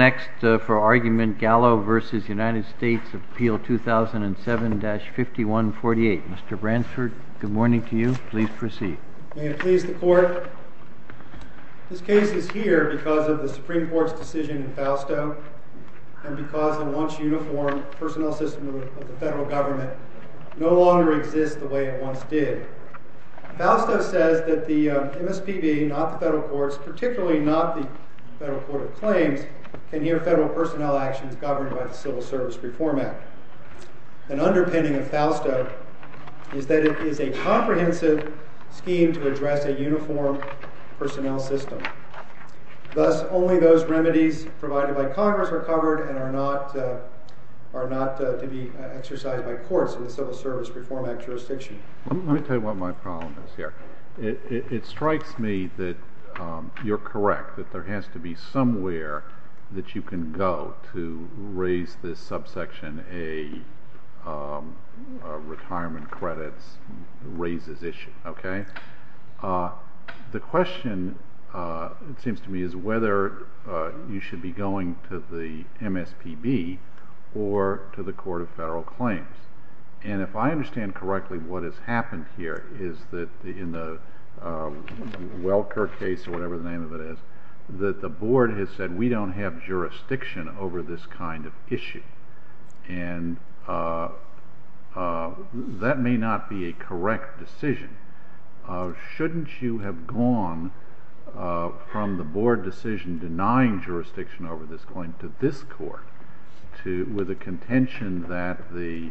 2007-5148. Mr. Bransford, good morning to you. Please proceed. May it please the Court. This case is here because of the Supreme Court's decision in Fausto and because the once uniformed personnel system of the federal government no longer exists the way it once did. Fausto says that the MSPB, not the federal courts, particularly not the federal court of claims, can hear federal personnel actions governed by the Civil Service Reform Act. An underpinning of Fausto is that it is a comprehensive scheme to address a uniformed personnel system. Thus, only those remedies provided by Congress are covered and are not to be exercised by courts in the Civil Service Reform Act jurisdiction. Let me tell you what my problem is here. It strikes me that you're correct, that there has to be somewhere that you can go to raise this subsection A, retirement credits raises issue. The question, it seems to me, is whether you should be going to the MSPB or to the court. What has happened here is that in the Welker case or whatever the name of it is, that the board has said we don't have jurisdiction over this kind of issue. That may not be a correct decision. Shouldn't you have gone from the board decision denying jurisdiction over this going to this court with the contention that the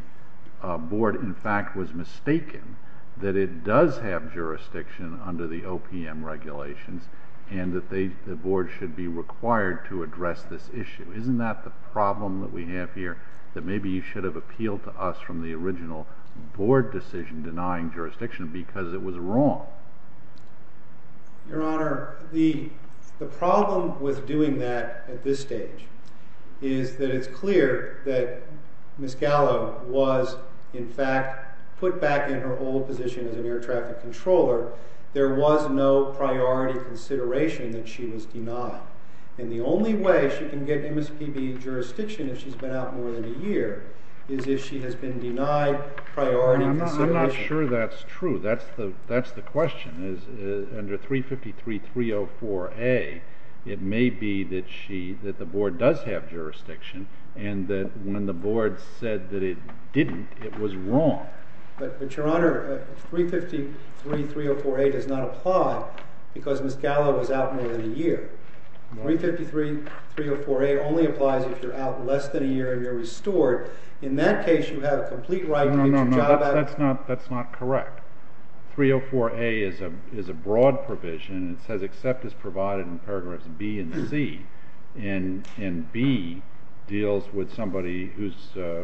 board, in fact, was mistaken that it does have jurisdiction under the OPM regulations and that the board should be required to address this issue? Isn't that the problem that we have here, that maybe you should have appealed to us from the original board decision denying jurisdiction because it was wrong? Your Honor, the problem with doing that at this stage is that it's clear that Ms. Gallo was, in fact, put back in her old position as an air traffic controller. There was no priority consideration that she was denied. And the only way she can get MSPB jurisdiction if she's been out more than a year is if she has been denied priority consideration. I'm not sure that's true. That's the question. Under 353.304A, it may be that the board does have jurisdiction and that when the board said that it didn't, it was wrong. But, Your Honor, 353.304A does not apply because Ms. Gallo was out more than a year. 353.304A only applies if you're out less than a year and you're restored. In that case, you have complete right to get your job back. No, no, no. That's not correct. 304A is a broad provision. It says except is provided in paragraphs B and C. And B deals with somebody who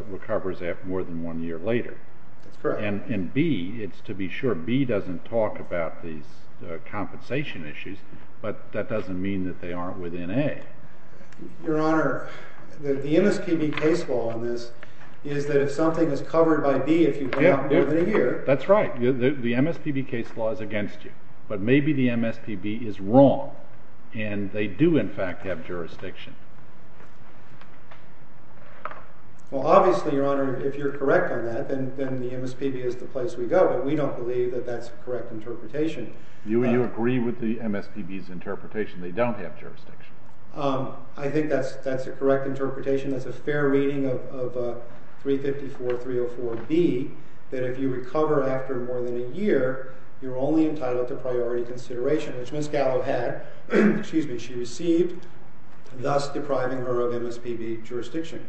recovers more than one year later. That's correct. And B, it's to be sure B doesn't talk about these compensation issues, but that doesn't mean that they aren't within Your Honor, the MSPB case law on this is that if something is covered by B if you've been out more than a year. That's right. The MSPB case law is against you. But maybe the MSPB is wrong and they do, in fact, have jurisdiction. Well, obviously, Your Honor, if you're correct on that, then the MSPB is the place we go, but we don't believe that that's the correct interpretation. Do you agree with the MSPB's interpretation they don't have jurisdiction? I think that's the correct interpretation. That's a fair reading of 354.304B that if you recover after more than a year, you're only entitled to priority consideration, which Ms. Gallo had, excuse me, she received, thus depriving her of MSPB jurisdiction.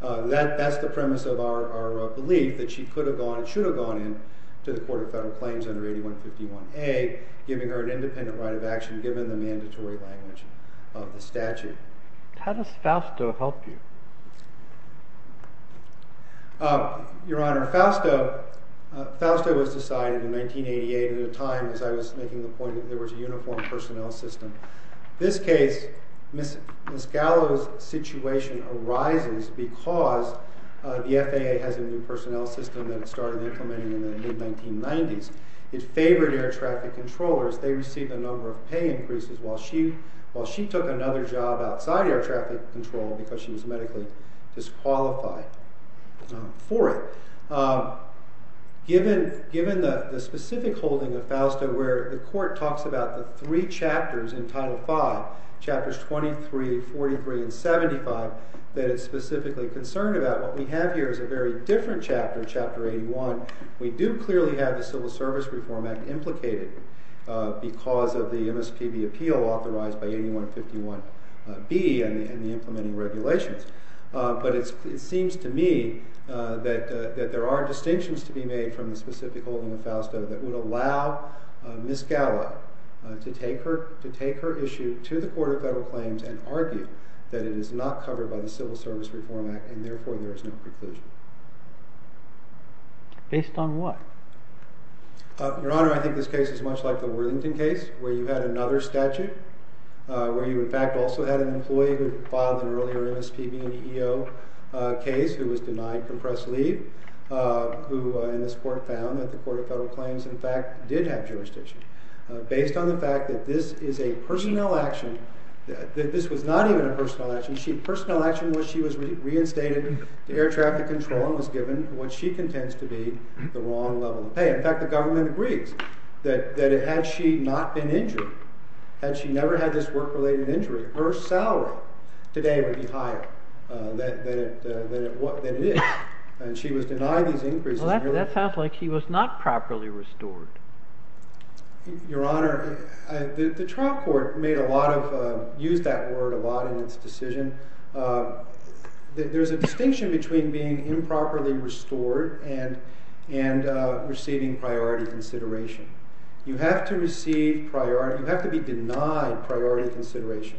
That's the premise of our belief that she could have gone and should have gone in to the Court of Federal Claims under 8151A, giving her an independent right of action given the mandatory language of the statute. How does FAUSTO help you? Your Honor, FAUSTO was decided in 1988 at a time as I was making the point that there was a uniformed personnel system. This case, Ms. Gallo's situation arises because the FAA has a new personnel system that it started implementing in the mid-1990s. It favored air traffic controllers. They received a number of pay increases while she took another job outside air traffic control because she was medically disqualified for it. Given the specific holding of FAUSTO where the Court talks about the three chapters in Title V, Chapters 23, 43, and 75, that it's specifically concerned about what we have here is a very different chapter, Chapter 81. We do clearly have the Civil Service Reform Act implicated because of the MSPB appeal authorized by 8151B and the implementing regulations. But it seems to me that there are distinctions to be made from the specific holding of FAUSTO that would allow Ms. Gallo to take her issue to the Court of Federal Claims and argue that it is not covered by the Civil Service Reform Act and therefore there is no preclusion. Based on what? Your Honor, I think this case is much like the Worthington case where you had another statute where you in fact also had an employee who filed an earlier MSPB and EEO case who was denied compressed leave who in this court found that the Court of Federal Claims in fact did have jurisdiction. Based on the fact that this is a personnel action, that this was not even a personnel action, the personnel action was she was reinstated to air traffic control and was given what she contends to be the wrong level of pay. In fact, the government agrees that had she not been injured, had she never had this work-related injury, her salary today would be higher than it is. And she was denied these increases. Well, that sounds like she was not properly restored. Your Honor, the trial court used that word a lot in its decision. There is a distinction between being improperly restored and receiving priority consideration. You have to be denied priority consideration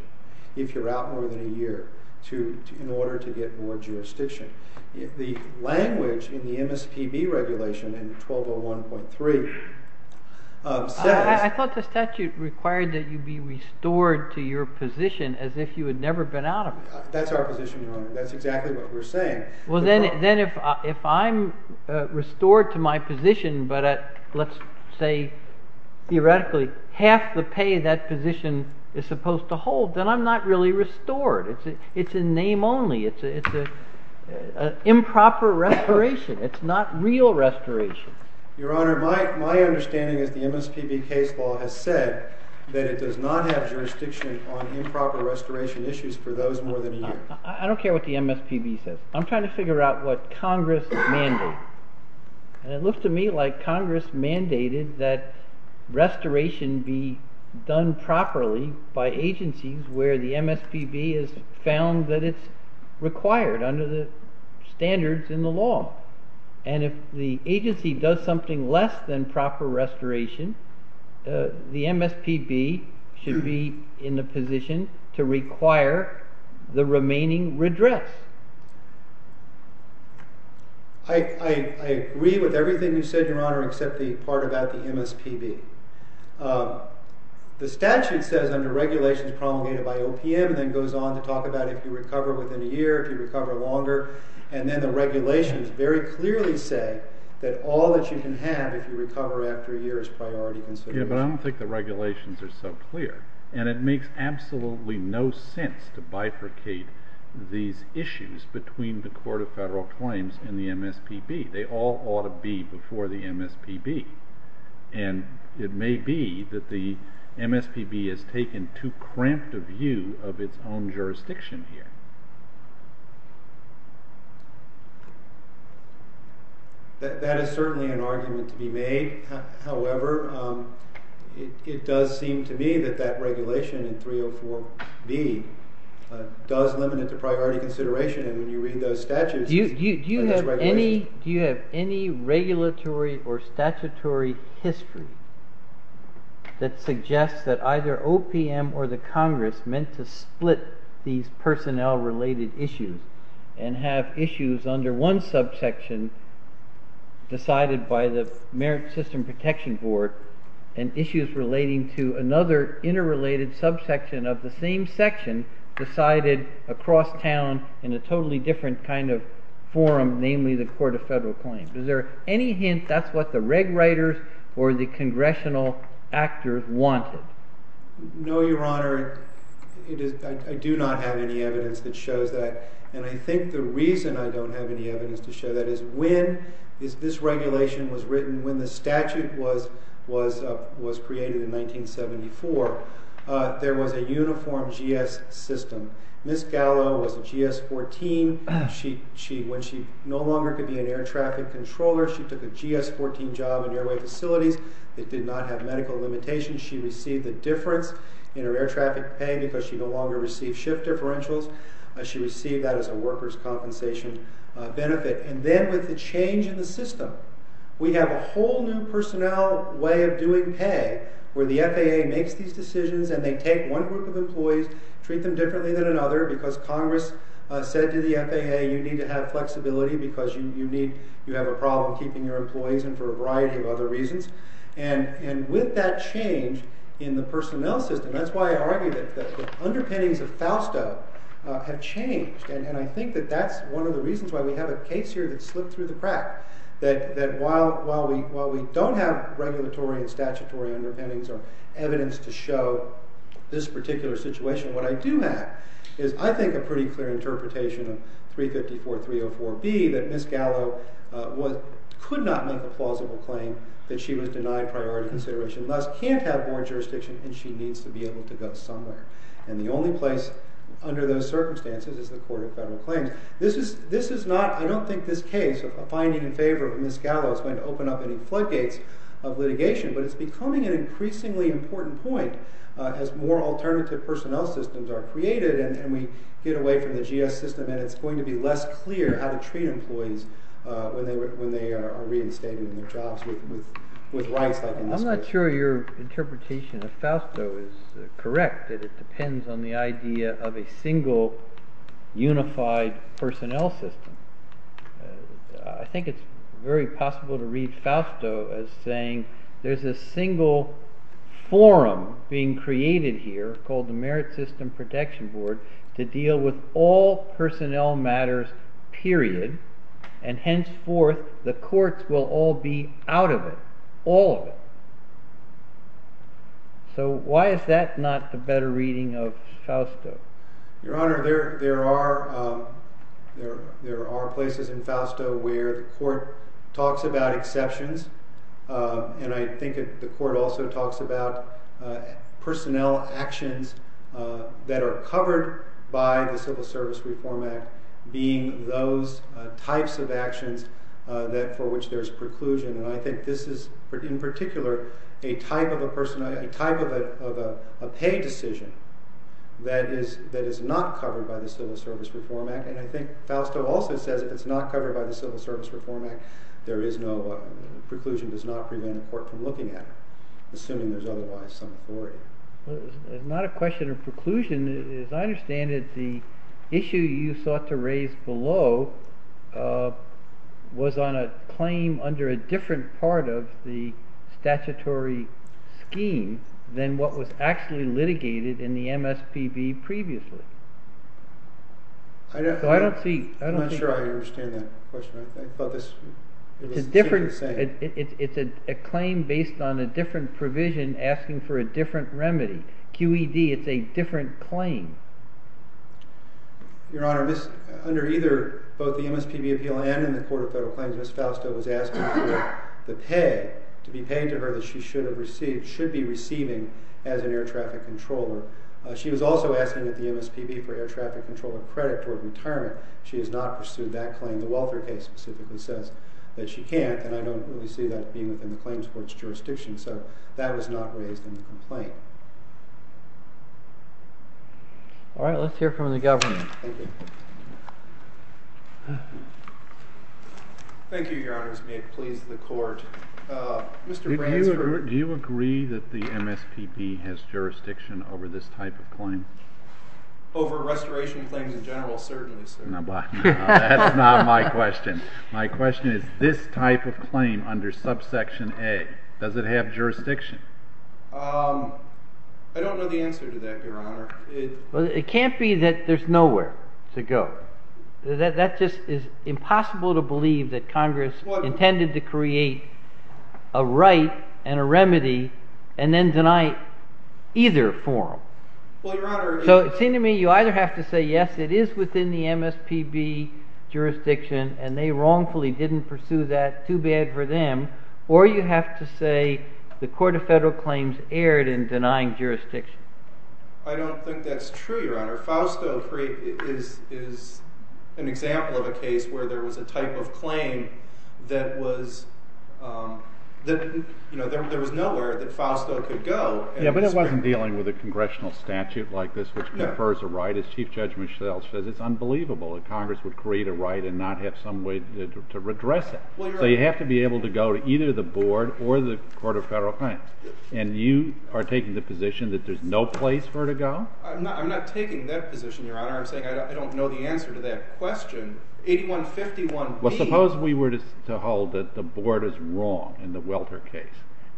if you are out more than a year in order to get more jurisdiction. The language in the MSPB regulation in 1201.3 says... I thought the statute required that you be restored to your position as if you had never been out of it. That is our position, Your Honor. That is exactly what we are saying. Well, then if I am restored to my position, but let's say theoretically half the pay that position is supposed to hold, then I am not really restored. It is a name only. It is an improper restoration. It is not real restoration. Your Honor, my understanding is the MSPB case law has said that it does not have jurisdiction on improper restoration issues for those more than a year. I don't care what the MSPB says. I am trying to figure out what Congress mandated. It looks to me like Congress mandated that restoration be done properly by agencies where the MSPB has found that it is required under the standards in the law. And if the agency does something less than proper restoration, the MSPB should be in the position to require the remaining redress. I agree with everything you said, Your Honor, except the part about the MSPB. The statute says under regulations promulgated by OPM and then goes on to talk about if you recover within a year, if you recover longer. And then the regulations very clearly say that all that you can have if you recover after a year is priority consideration. But I don't think the regulations are so clear. And it makes absolutely no sense to bifurcate these issues between the Court of Federal Claims and the MSPB. They all ought to be before the MSPB. And it may be that the MSPB has taken too cramped a view of its own jurisdiction here. That is certainly an argument to be made. However, it does seem to me that that regulation in 304B does limit it to priority consideration. And when you read those statutes, it is regulation. Do you have any regulatory or statutory history that suggests that either OPM or the Congress meant to split these personnel-related issues and have issues under one subsection decided by the Merit System Protection Board and issues relating to another interrelated subsection of the same section decided across town in a totally different kind of forum, namely the Court of Federal Claims? Is there any hint that's what the reg writers or the congressional actors wanted? No, Your Honor. I do not have any evidence that shows that. And I think the reason I don't have any evidence to show that is when this regulation was written, when the statute was created in 1974, there was a uniform GS system. Ms. Gallo was a GS-14. When she no longer could be an air traffic controller, she took a GS-14 job in airway facilities that did not have medical limitations. She received a difference in her air traffic pay because she no longer received shift differentials. She received that as a workers' compensation benefit. And then with the change in the system, we have a whole new personnel way of doing pay where the FAA makes these decisions and they take one group of employees, treat them differently than another because Congress said to the FAA, you need to have flexibility because you have a problem keeping your employees in for a variety of other reasons. And with that change in the personnel system, that's why I argue that the underpinnings of FAUSTA have changed. And I think that that's one of the reasons why we have a case here that slipped through the crack. That while we don't have regulatory and statutory underpinnings or evidence to show this particular situation, what I do have is, I think, a pretty clear interpretation of 354.304B that Ms. Gallo could not make a plausible claim that she was denied priority consideration, thus can't have board jurisdiction and she needs to be able to go somewhere. And the only place under those circumstances is the Court of Federal Claims. This is not, I don't think, this case of a finding in favor of Ms. Gallo is going to open up any floodgates of litigation. But it's becoming an increasingly important point as more alternative personnel systems are created and we get away from the GS system and it's going to be less clear how to treat employees when they are reinstating their jobs with rights like Ms. Gallo. I'm not sure your interpretation of Fausto is correct, that it depends on the idea of a single unified personnel system. I think it's very possible to read Fausto as saying there's a single forum being created here called the Merit System Protection Board to deal with all personnel matters, period. And henceforth, the courts will all be out of it, all of it. So why is that not the better reading of Fausto? Your Honor, there are places in Fausto where the court talks about exceptions and I think the court also talks about personnel actions that are covered by the Civil Service Reform Act being those types of actions for which there's preclusion. And I think this is, in particular, a type of a pay decision that is not covered by the Civil Service Reform Act. And I think Fausto also says if it's not covered by the Civil Service Reform Act, there is no, preclusion does not prevent a court from looking at it, assuming there's otherwise some authority. It's not a question of preclusion. As I understand it, the issue you sought to raise below was on a claim under a different part of the statutory scheme than what was actually litigated in the MSPB previously. I'm not sure I understand that question. It's a claim based on a different provision asking for a different remedy. QED, it's a different claim. Your Honor, under either, both the MSPB appeal and in the Court of Federal Claims, Ms. Fausto was asking for the pay, to be paid to her that she should have received, should be receiving as an air traffic controller. She was also asking that the MSPB for air traffic controller credit toward retirement. She has not pursued that claim. The Welter case specifically says that she can't, and I don't really see that being within the claims court's jurisdiction. So that was not raised in the complaint. All right, let's hear from the Governor. Thank you. Thank you, Your Honors. May it please the Court. Mr. Bransford. Do you agree that the MSPB has jurisdiction over this type of claim? Over restoration claims in general, certainly, sir. That's not my question. My question is, this type of claim under subsection A, does it have jurisdiction? I don't know the answer to that, Your Honor. It can't be that there's nowhere to go. That just is impossible to believe that Congress intended to create a right and a remedy and then deny it either form. So it seems to me you either have to say, yes, it is within the MSPB jurisdiction, and they wrongfully didn't pursue that. Too bad for them. Or you have to say the Court of Federal Claims erred in denying jurisdiction. I don't think that's true, Your Honor. Fausto is an example of a case where there was a type of claim that there was nowhere that Fausto could go. Yeah, but it wasn't dealing with a congressional statute like this, which confers a right. As Chief Judge Mischel says, it's unbelievable that Congress would create a right and not have some way to redress it. So you have to be able to go to either the Board or the Court of Federal Claims. And you are taking the position that there's no place for her to go? I'm not taking that position, Your Honor. I'm saying I don't know the answer to that question. 8151B. Well, suppose we were to hold that the Board is wrong in the Welter case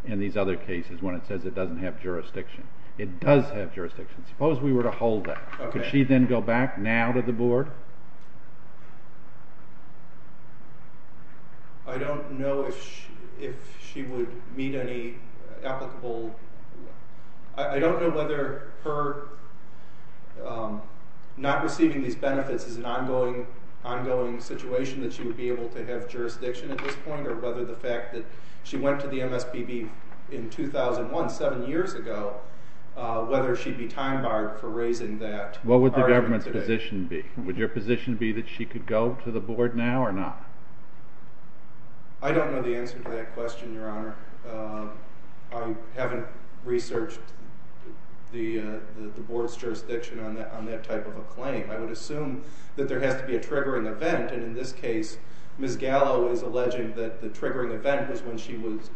and these other cases when it says it doesn't have jurisdiction. It does have jurisdiction. Suppose we were to hold that. Could she then go back now to the Board? I don't know if she would meet any applicable... I don't know whether her not receiving these benefits is an ongoing situation that she would be able to have jurisdiction at this point in 2001, seven years ago, whether she'd be time barred for raising that argument today. What would the government's position be? Would your position be that she could go to the Board now or not? I don't know the answer to that question, Your Honor. I haven't researched the Board's jurisdiction on that type of a claim. I would assume that there has to be a triggering event. And in this case, Ms. Gallo is alleging that the triggering event was when she was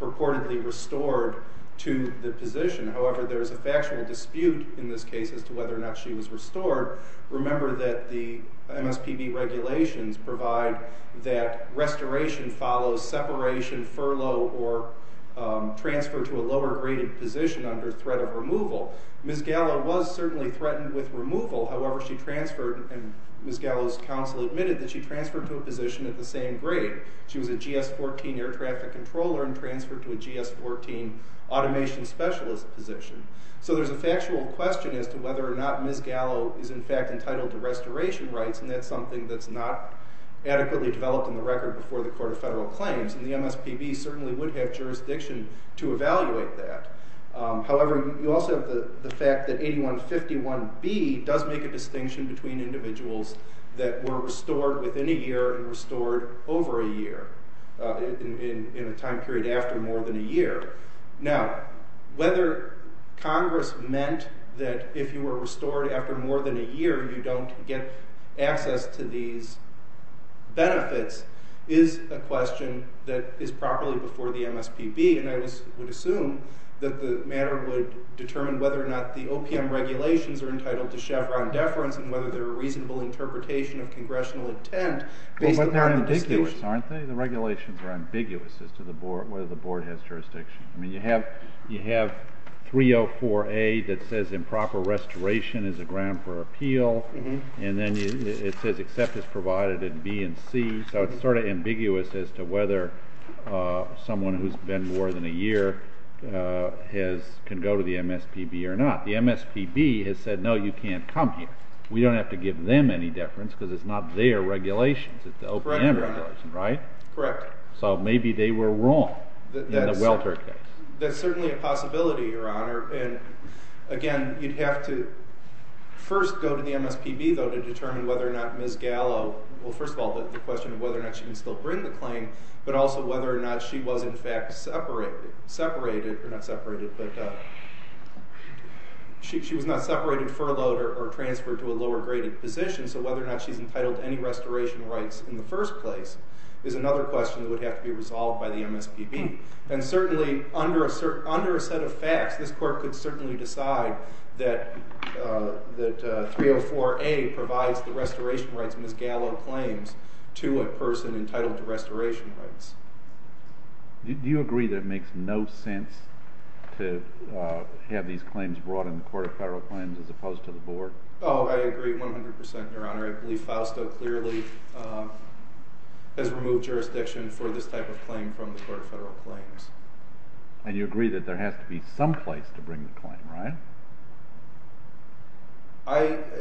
purportedly restored to the position. However, there is a factual dispute in this case as to whether or not she was restored. Remember that the MSPB regulations provide that restoration follows separation, furlough, or transfer to a lower-graded position under threat of removal. Ms. Gallo was certainly threatened with removal. However, she transferred, and Ms. Gallo's counsel admitted that she transferred to a position of the same grade. She was a GS-14 automation specialist position. So there's a factual question as to whether or not Ms. Gallo is, in fact, entitled to restoration rights, and that's something that's not adequately developed in the record before the Court of Federal Claims. And the MSPB certainly would have jurisdiction to evaluate that. However, you also have the fact that 8151B does make a distinction between individuals that were restored within a year and individuals that were restored over a year, in a time period after more than a year. Now, whether Congress meant that if you were restored after more than a year, you don't get access to these benefits is a question that is properly before the MSPB, and I would assume that the matter would determine whether or not the OPM regulations are entitled to jurisdiction. They're ambiguous, aren't they? The regulations are ambiguous as to whether the board has jurisdiction. I mean, you have 304A that says improper restoration is a ground for appeal, and then it says except is provided in B and C, so it's sort of ambiguous as to whether someone who's been more than a year can go to the MSPB or not. The MSPB has said, no, you can't come here. We don't have to give them any deference because it's not their regulations. It's the OPM regulations, right? Correct. So maybe they were wrong in the Welter case. That's certainly a possibility, Your Honor, and again, you'd have to first go to the MSPB, though, to determine whether or not Ms. Gallo, well, first of all, the question of whether or not she can still bring the claim, but also whether or not she was, in fact, separated, or not separated, but she was not separated, furloughed, or transferred to a lower-graded position. So whether or not she's entitled to any restoration rights in the first place is another question that would have to be resolved by the MSPB. And certainly, under a set of facts, this Court could certainly decide that 304A provides the restoration rights, Ms. Gallo claims, to a person entitled to restoration rights. Do you agree that it makes no sense to have these claims brought in the Court of Federal Claims Board? Oh, I agree 100%, Your Honor. I believe Falstaff clearly has removed jurisdiction for this type of claim from the Court of Federal Claims. And you agree that there has to be some place to bring the claim, right?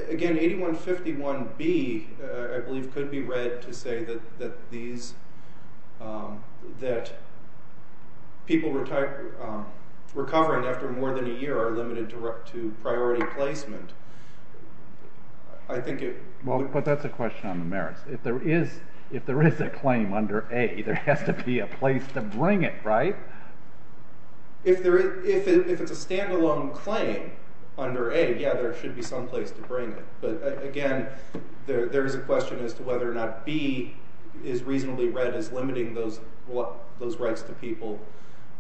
Again, 8151B, I believe, could be read to say that people recovering after more than a year are limited to priority placement. Well, but that's a question on the merits. If there is a claim under A, there has to be a place to bring it, right? If it's a standalone claim under A, yeah, there should be some place to bring it. But again, there is a question as to whether or not B is reasonably read as limiting those rights to people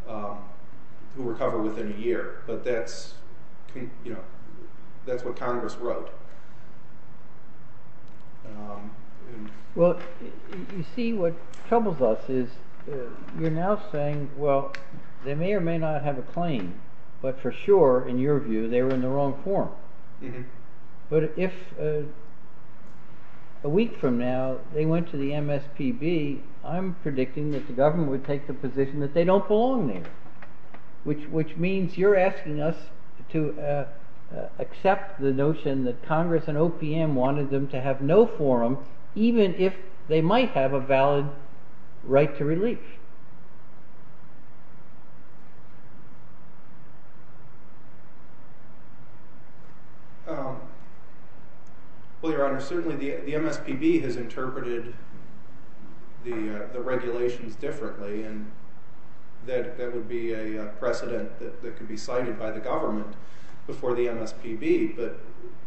who recover within a year. But that's, you know, that's what Congress wrote. Well, you see, what troubles us is you're now saying, well, they may or may not have a claim, but for sure, in your view, they were in the wrong form. But if a week from now they went to the MSPB, I'm predicting that the government would take the position that they don't belong there, which means you're asking us to accept the notion that Congress and OPM wanted them to have no forum, even if they might have a valid right to relief. Well, Your Honor, certainly the MSPB has interpreted the regulations differently, and that would be a precedent that could be cited by the government before the MSPB.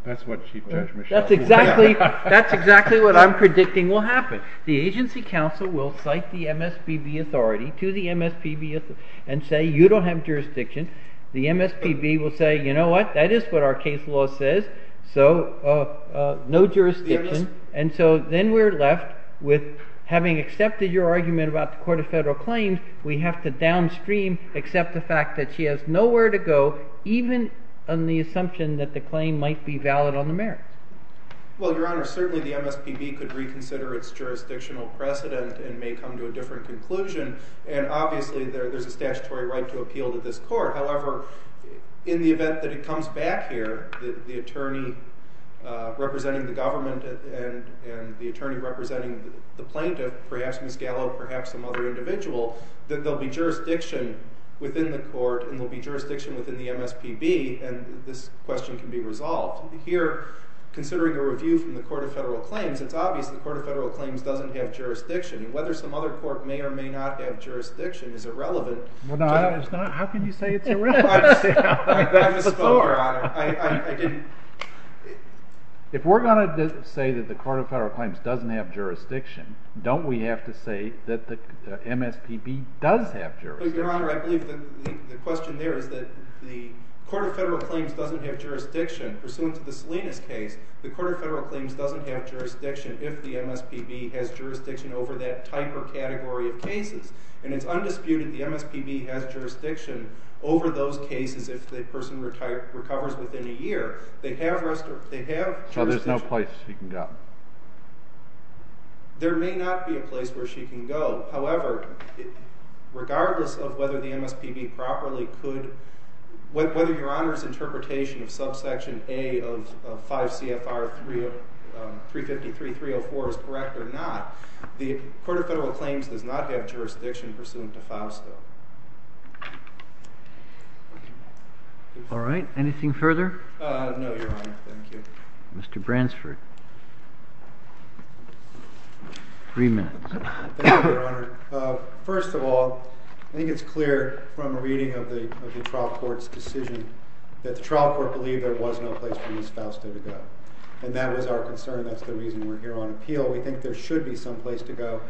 That's what Chief Judge Michel said. That's exactly what I'm predicting will happen. The agency counsel will cite the MSPB authority to the MSPB and say, you don't have jurisdiction. The MSPB will say, you know what, that is what our case law says, so no jurisdiction. And so then we're left with having accepted your argument about the Court of Federal Claims, we have to downstream accept the fact that she has nowhere to go, even on the assumption that the claim might be valid on the merits. Well, Your Honor, certainly the MSPB could reconsider its jurisdictional precedent and may come to a different conclusion, and obviously there's a statutory right to appeal to this court. However, in the event that it comes back here, the attorney representing the government and the attorney representing the plaintiff, perhaps Ms. Gallo, perhaps some other individual, that there'll be jurisdiction within the court and there'll be jurisdiction within the MSPB, and this question can be resolved. Here, considering a review from the Court of Federal Claims, it's obvious the Court of Federal Claims doesn't have jurisdiction. Whether some other court may or may not have jurisdiction is irrelevant. Well, no, it's not. How can you say it's irrelevant? I just spoke, Your Honor. I didn't... If we're going to say that the Court of Federal Claims doesn't have jurisdiction, don't we have to say that the MSPB does have jurisdiction? Your Honor, I believe the question there is that the Court of Federal Claims doesn't have jurisdiction. Pursuant to the Salinas case, the Court of Federal Claims doesn't have jurisdiction if the MSPB has jurisdiction over that type or category of cases. And it's undisputed the MSPB has jurisdiction over those cases if the person recovers within a year. They have jurisdiction... So there's no place she can go? There may not be a place where she can go. However, regardless of whether the MSPB properly could... Whether Your Honor's interpretation of subsection A of 5 CFR 353-304 is correct or not, the Court of Federal Claims does not have jurisdiction pursuant to Fausto. All right. Anything further? No, Your Honor. Thank you. Mr. Bransford. Three minutes. Thank you, Your Honor. First of all, I think it's clear from a reading of the trial court's decision that the trial court believed there was no place for Ms. Fausto to go. And that was our concern. That's the reason we're here on appeal. We think there should be some place to go.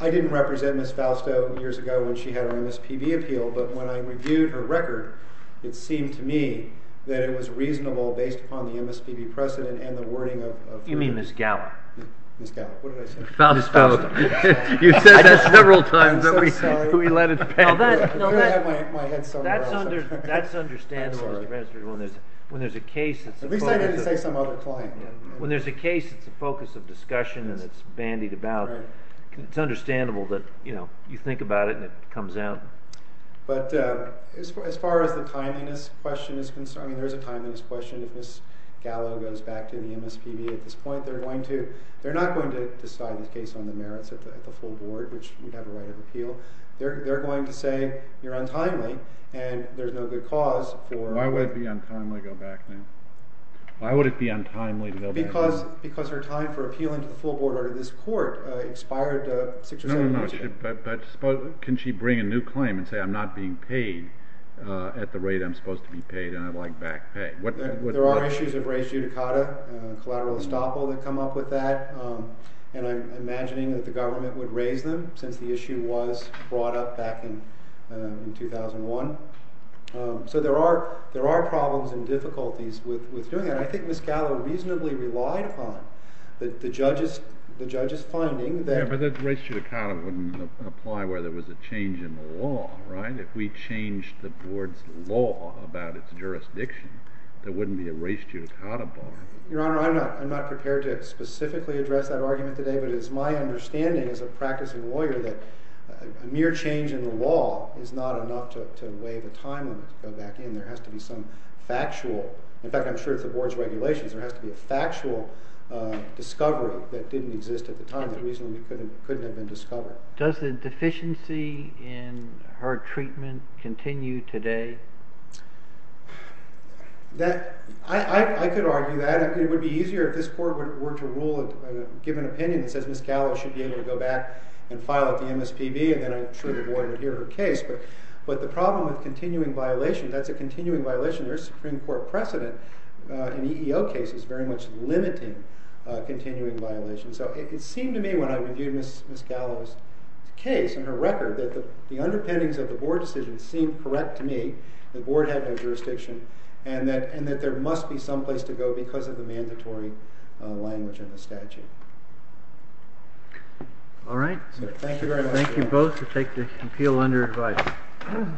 I didn't represent Ms. Fausto years ago when she had her MSPB appeal, but when I reviewed her record, it seemed to me that it was reasonable based upon the MSPB precedent and the wording of... You mean Ms. Gower? Ms. Gower. What did I say? Ms. Fausto. Ms. Fausto. You said that several times. I'm so sorry. We let it pass. I'm going to have my head sewn around. That's understandable, Mr. Bransford. When there's a case... At least I didn't say some other client. When there's a case, it's a focus of discussion and it's bandied about. It's understandable that you think about it and it comes out. But as far as the timeliness question is concerned, I mean, there's a timeliness question. If Ms. Gower goes back to the MSPB at this point, they're not going to decide the case on the merits at the full board, which we'd have a right of appeal. They're going to say you're untimely and there's no good cause for... Why would it be untimely to go back, then? Why would it be untimely to go back? Because her time for appealing to the full board or to this court expired six or seven years ago. But can she bring a new claim and say I'm not being paid at the rate I'm supposed to be paid and I'd like back pay? There are issues of res judicata, collateral estoppel that come up with that. And I'm imagining that the government would raise them since the issue was brought up back in 2001. So there are problems and difficulties with doing that. I think Ms. Gower reasonably relied upon the judge's finding that... Yeah, but that res judicata wouldn't apply where there was a change in the law, right? If we changed the board's law about its jurisdiction, there wouldn't be a res judicata bar. Your Honor, I'm not prepared to specifically address that argument today, but it is my understanding as a practicing lawyer that a mere change in the law is not enough to waive a time limit to go back in. There has to be some factual... In fact, I'm sure it's the board's regulations. There has to be a factual discovery that didn't exist at the time that reasonably couldn't have been discovered. Does the deficiency in her treatment continue today? I could argue that. It would be easier if this court were to give an opinion that says Ms. Gower should be able to go back and file at the MSPB and then I'm sure the board would hear her case. But the problem with continuing violation, that's a continuing violation. There's Supreme Court precedent in EEO cases very much limiting continuing violations. So it seemed to me when I reviewed Ms. Gower's case and her record that the underpinnings of the board decision seemed correct to me. The board had no jurisdiction and that there must be some place to go because of the mandatory language in the statute. All right. Thank you very much. Thank you both to take this appeal under advice. Thank you.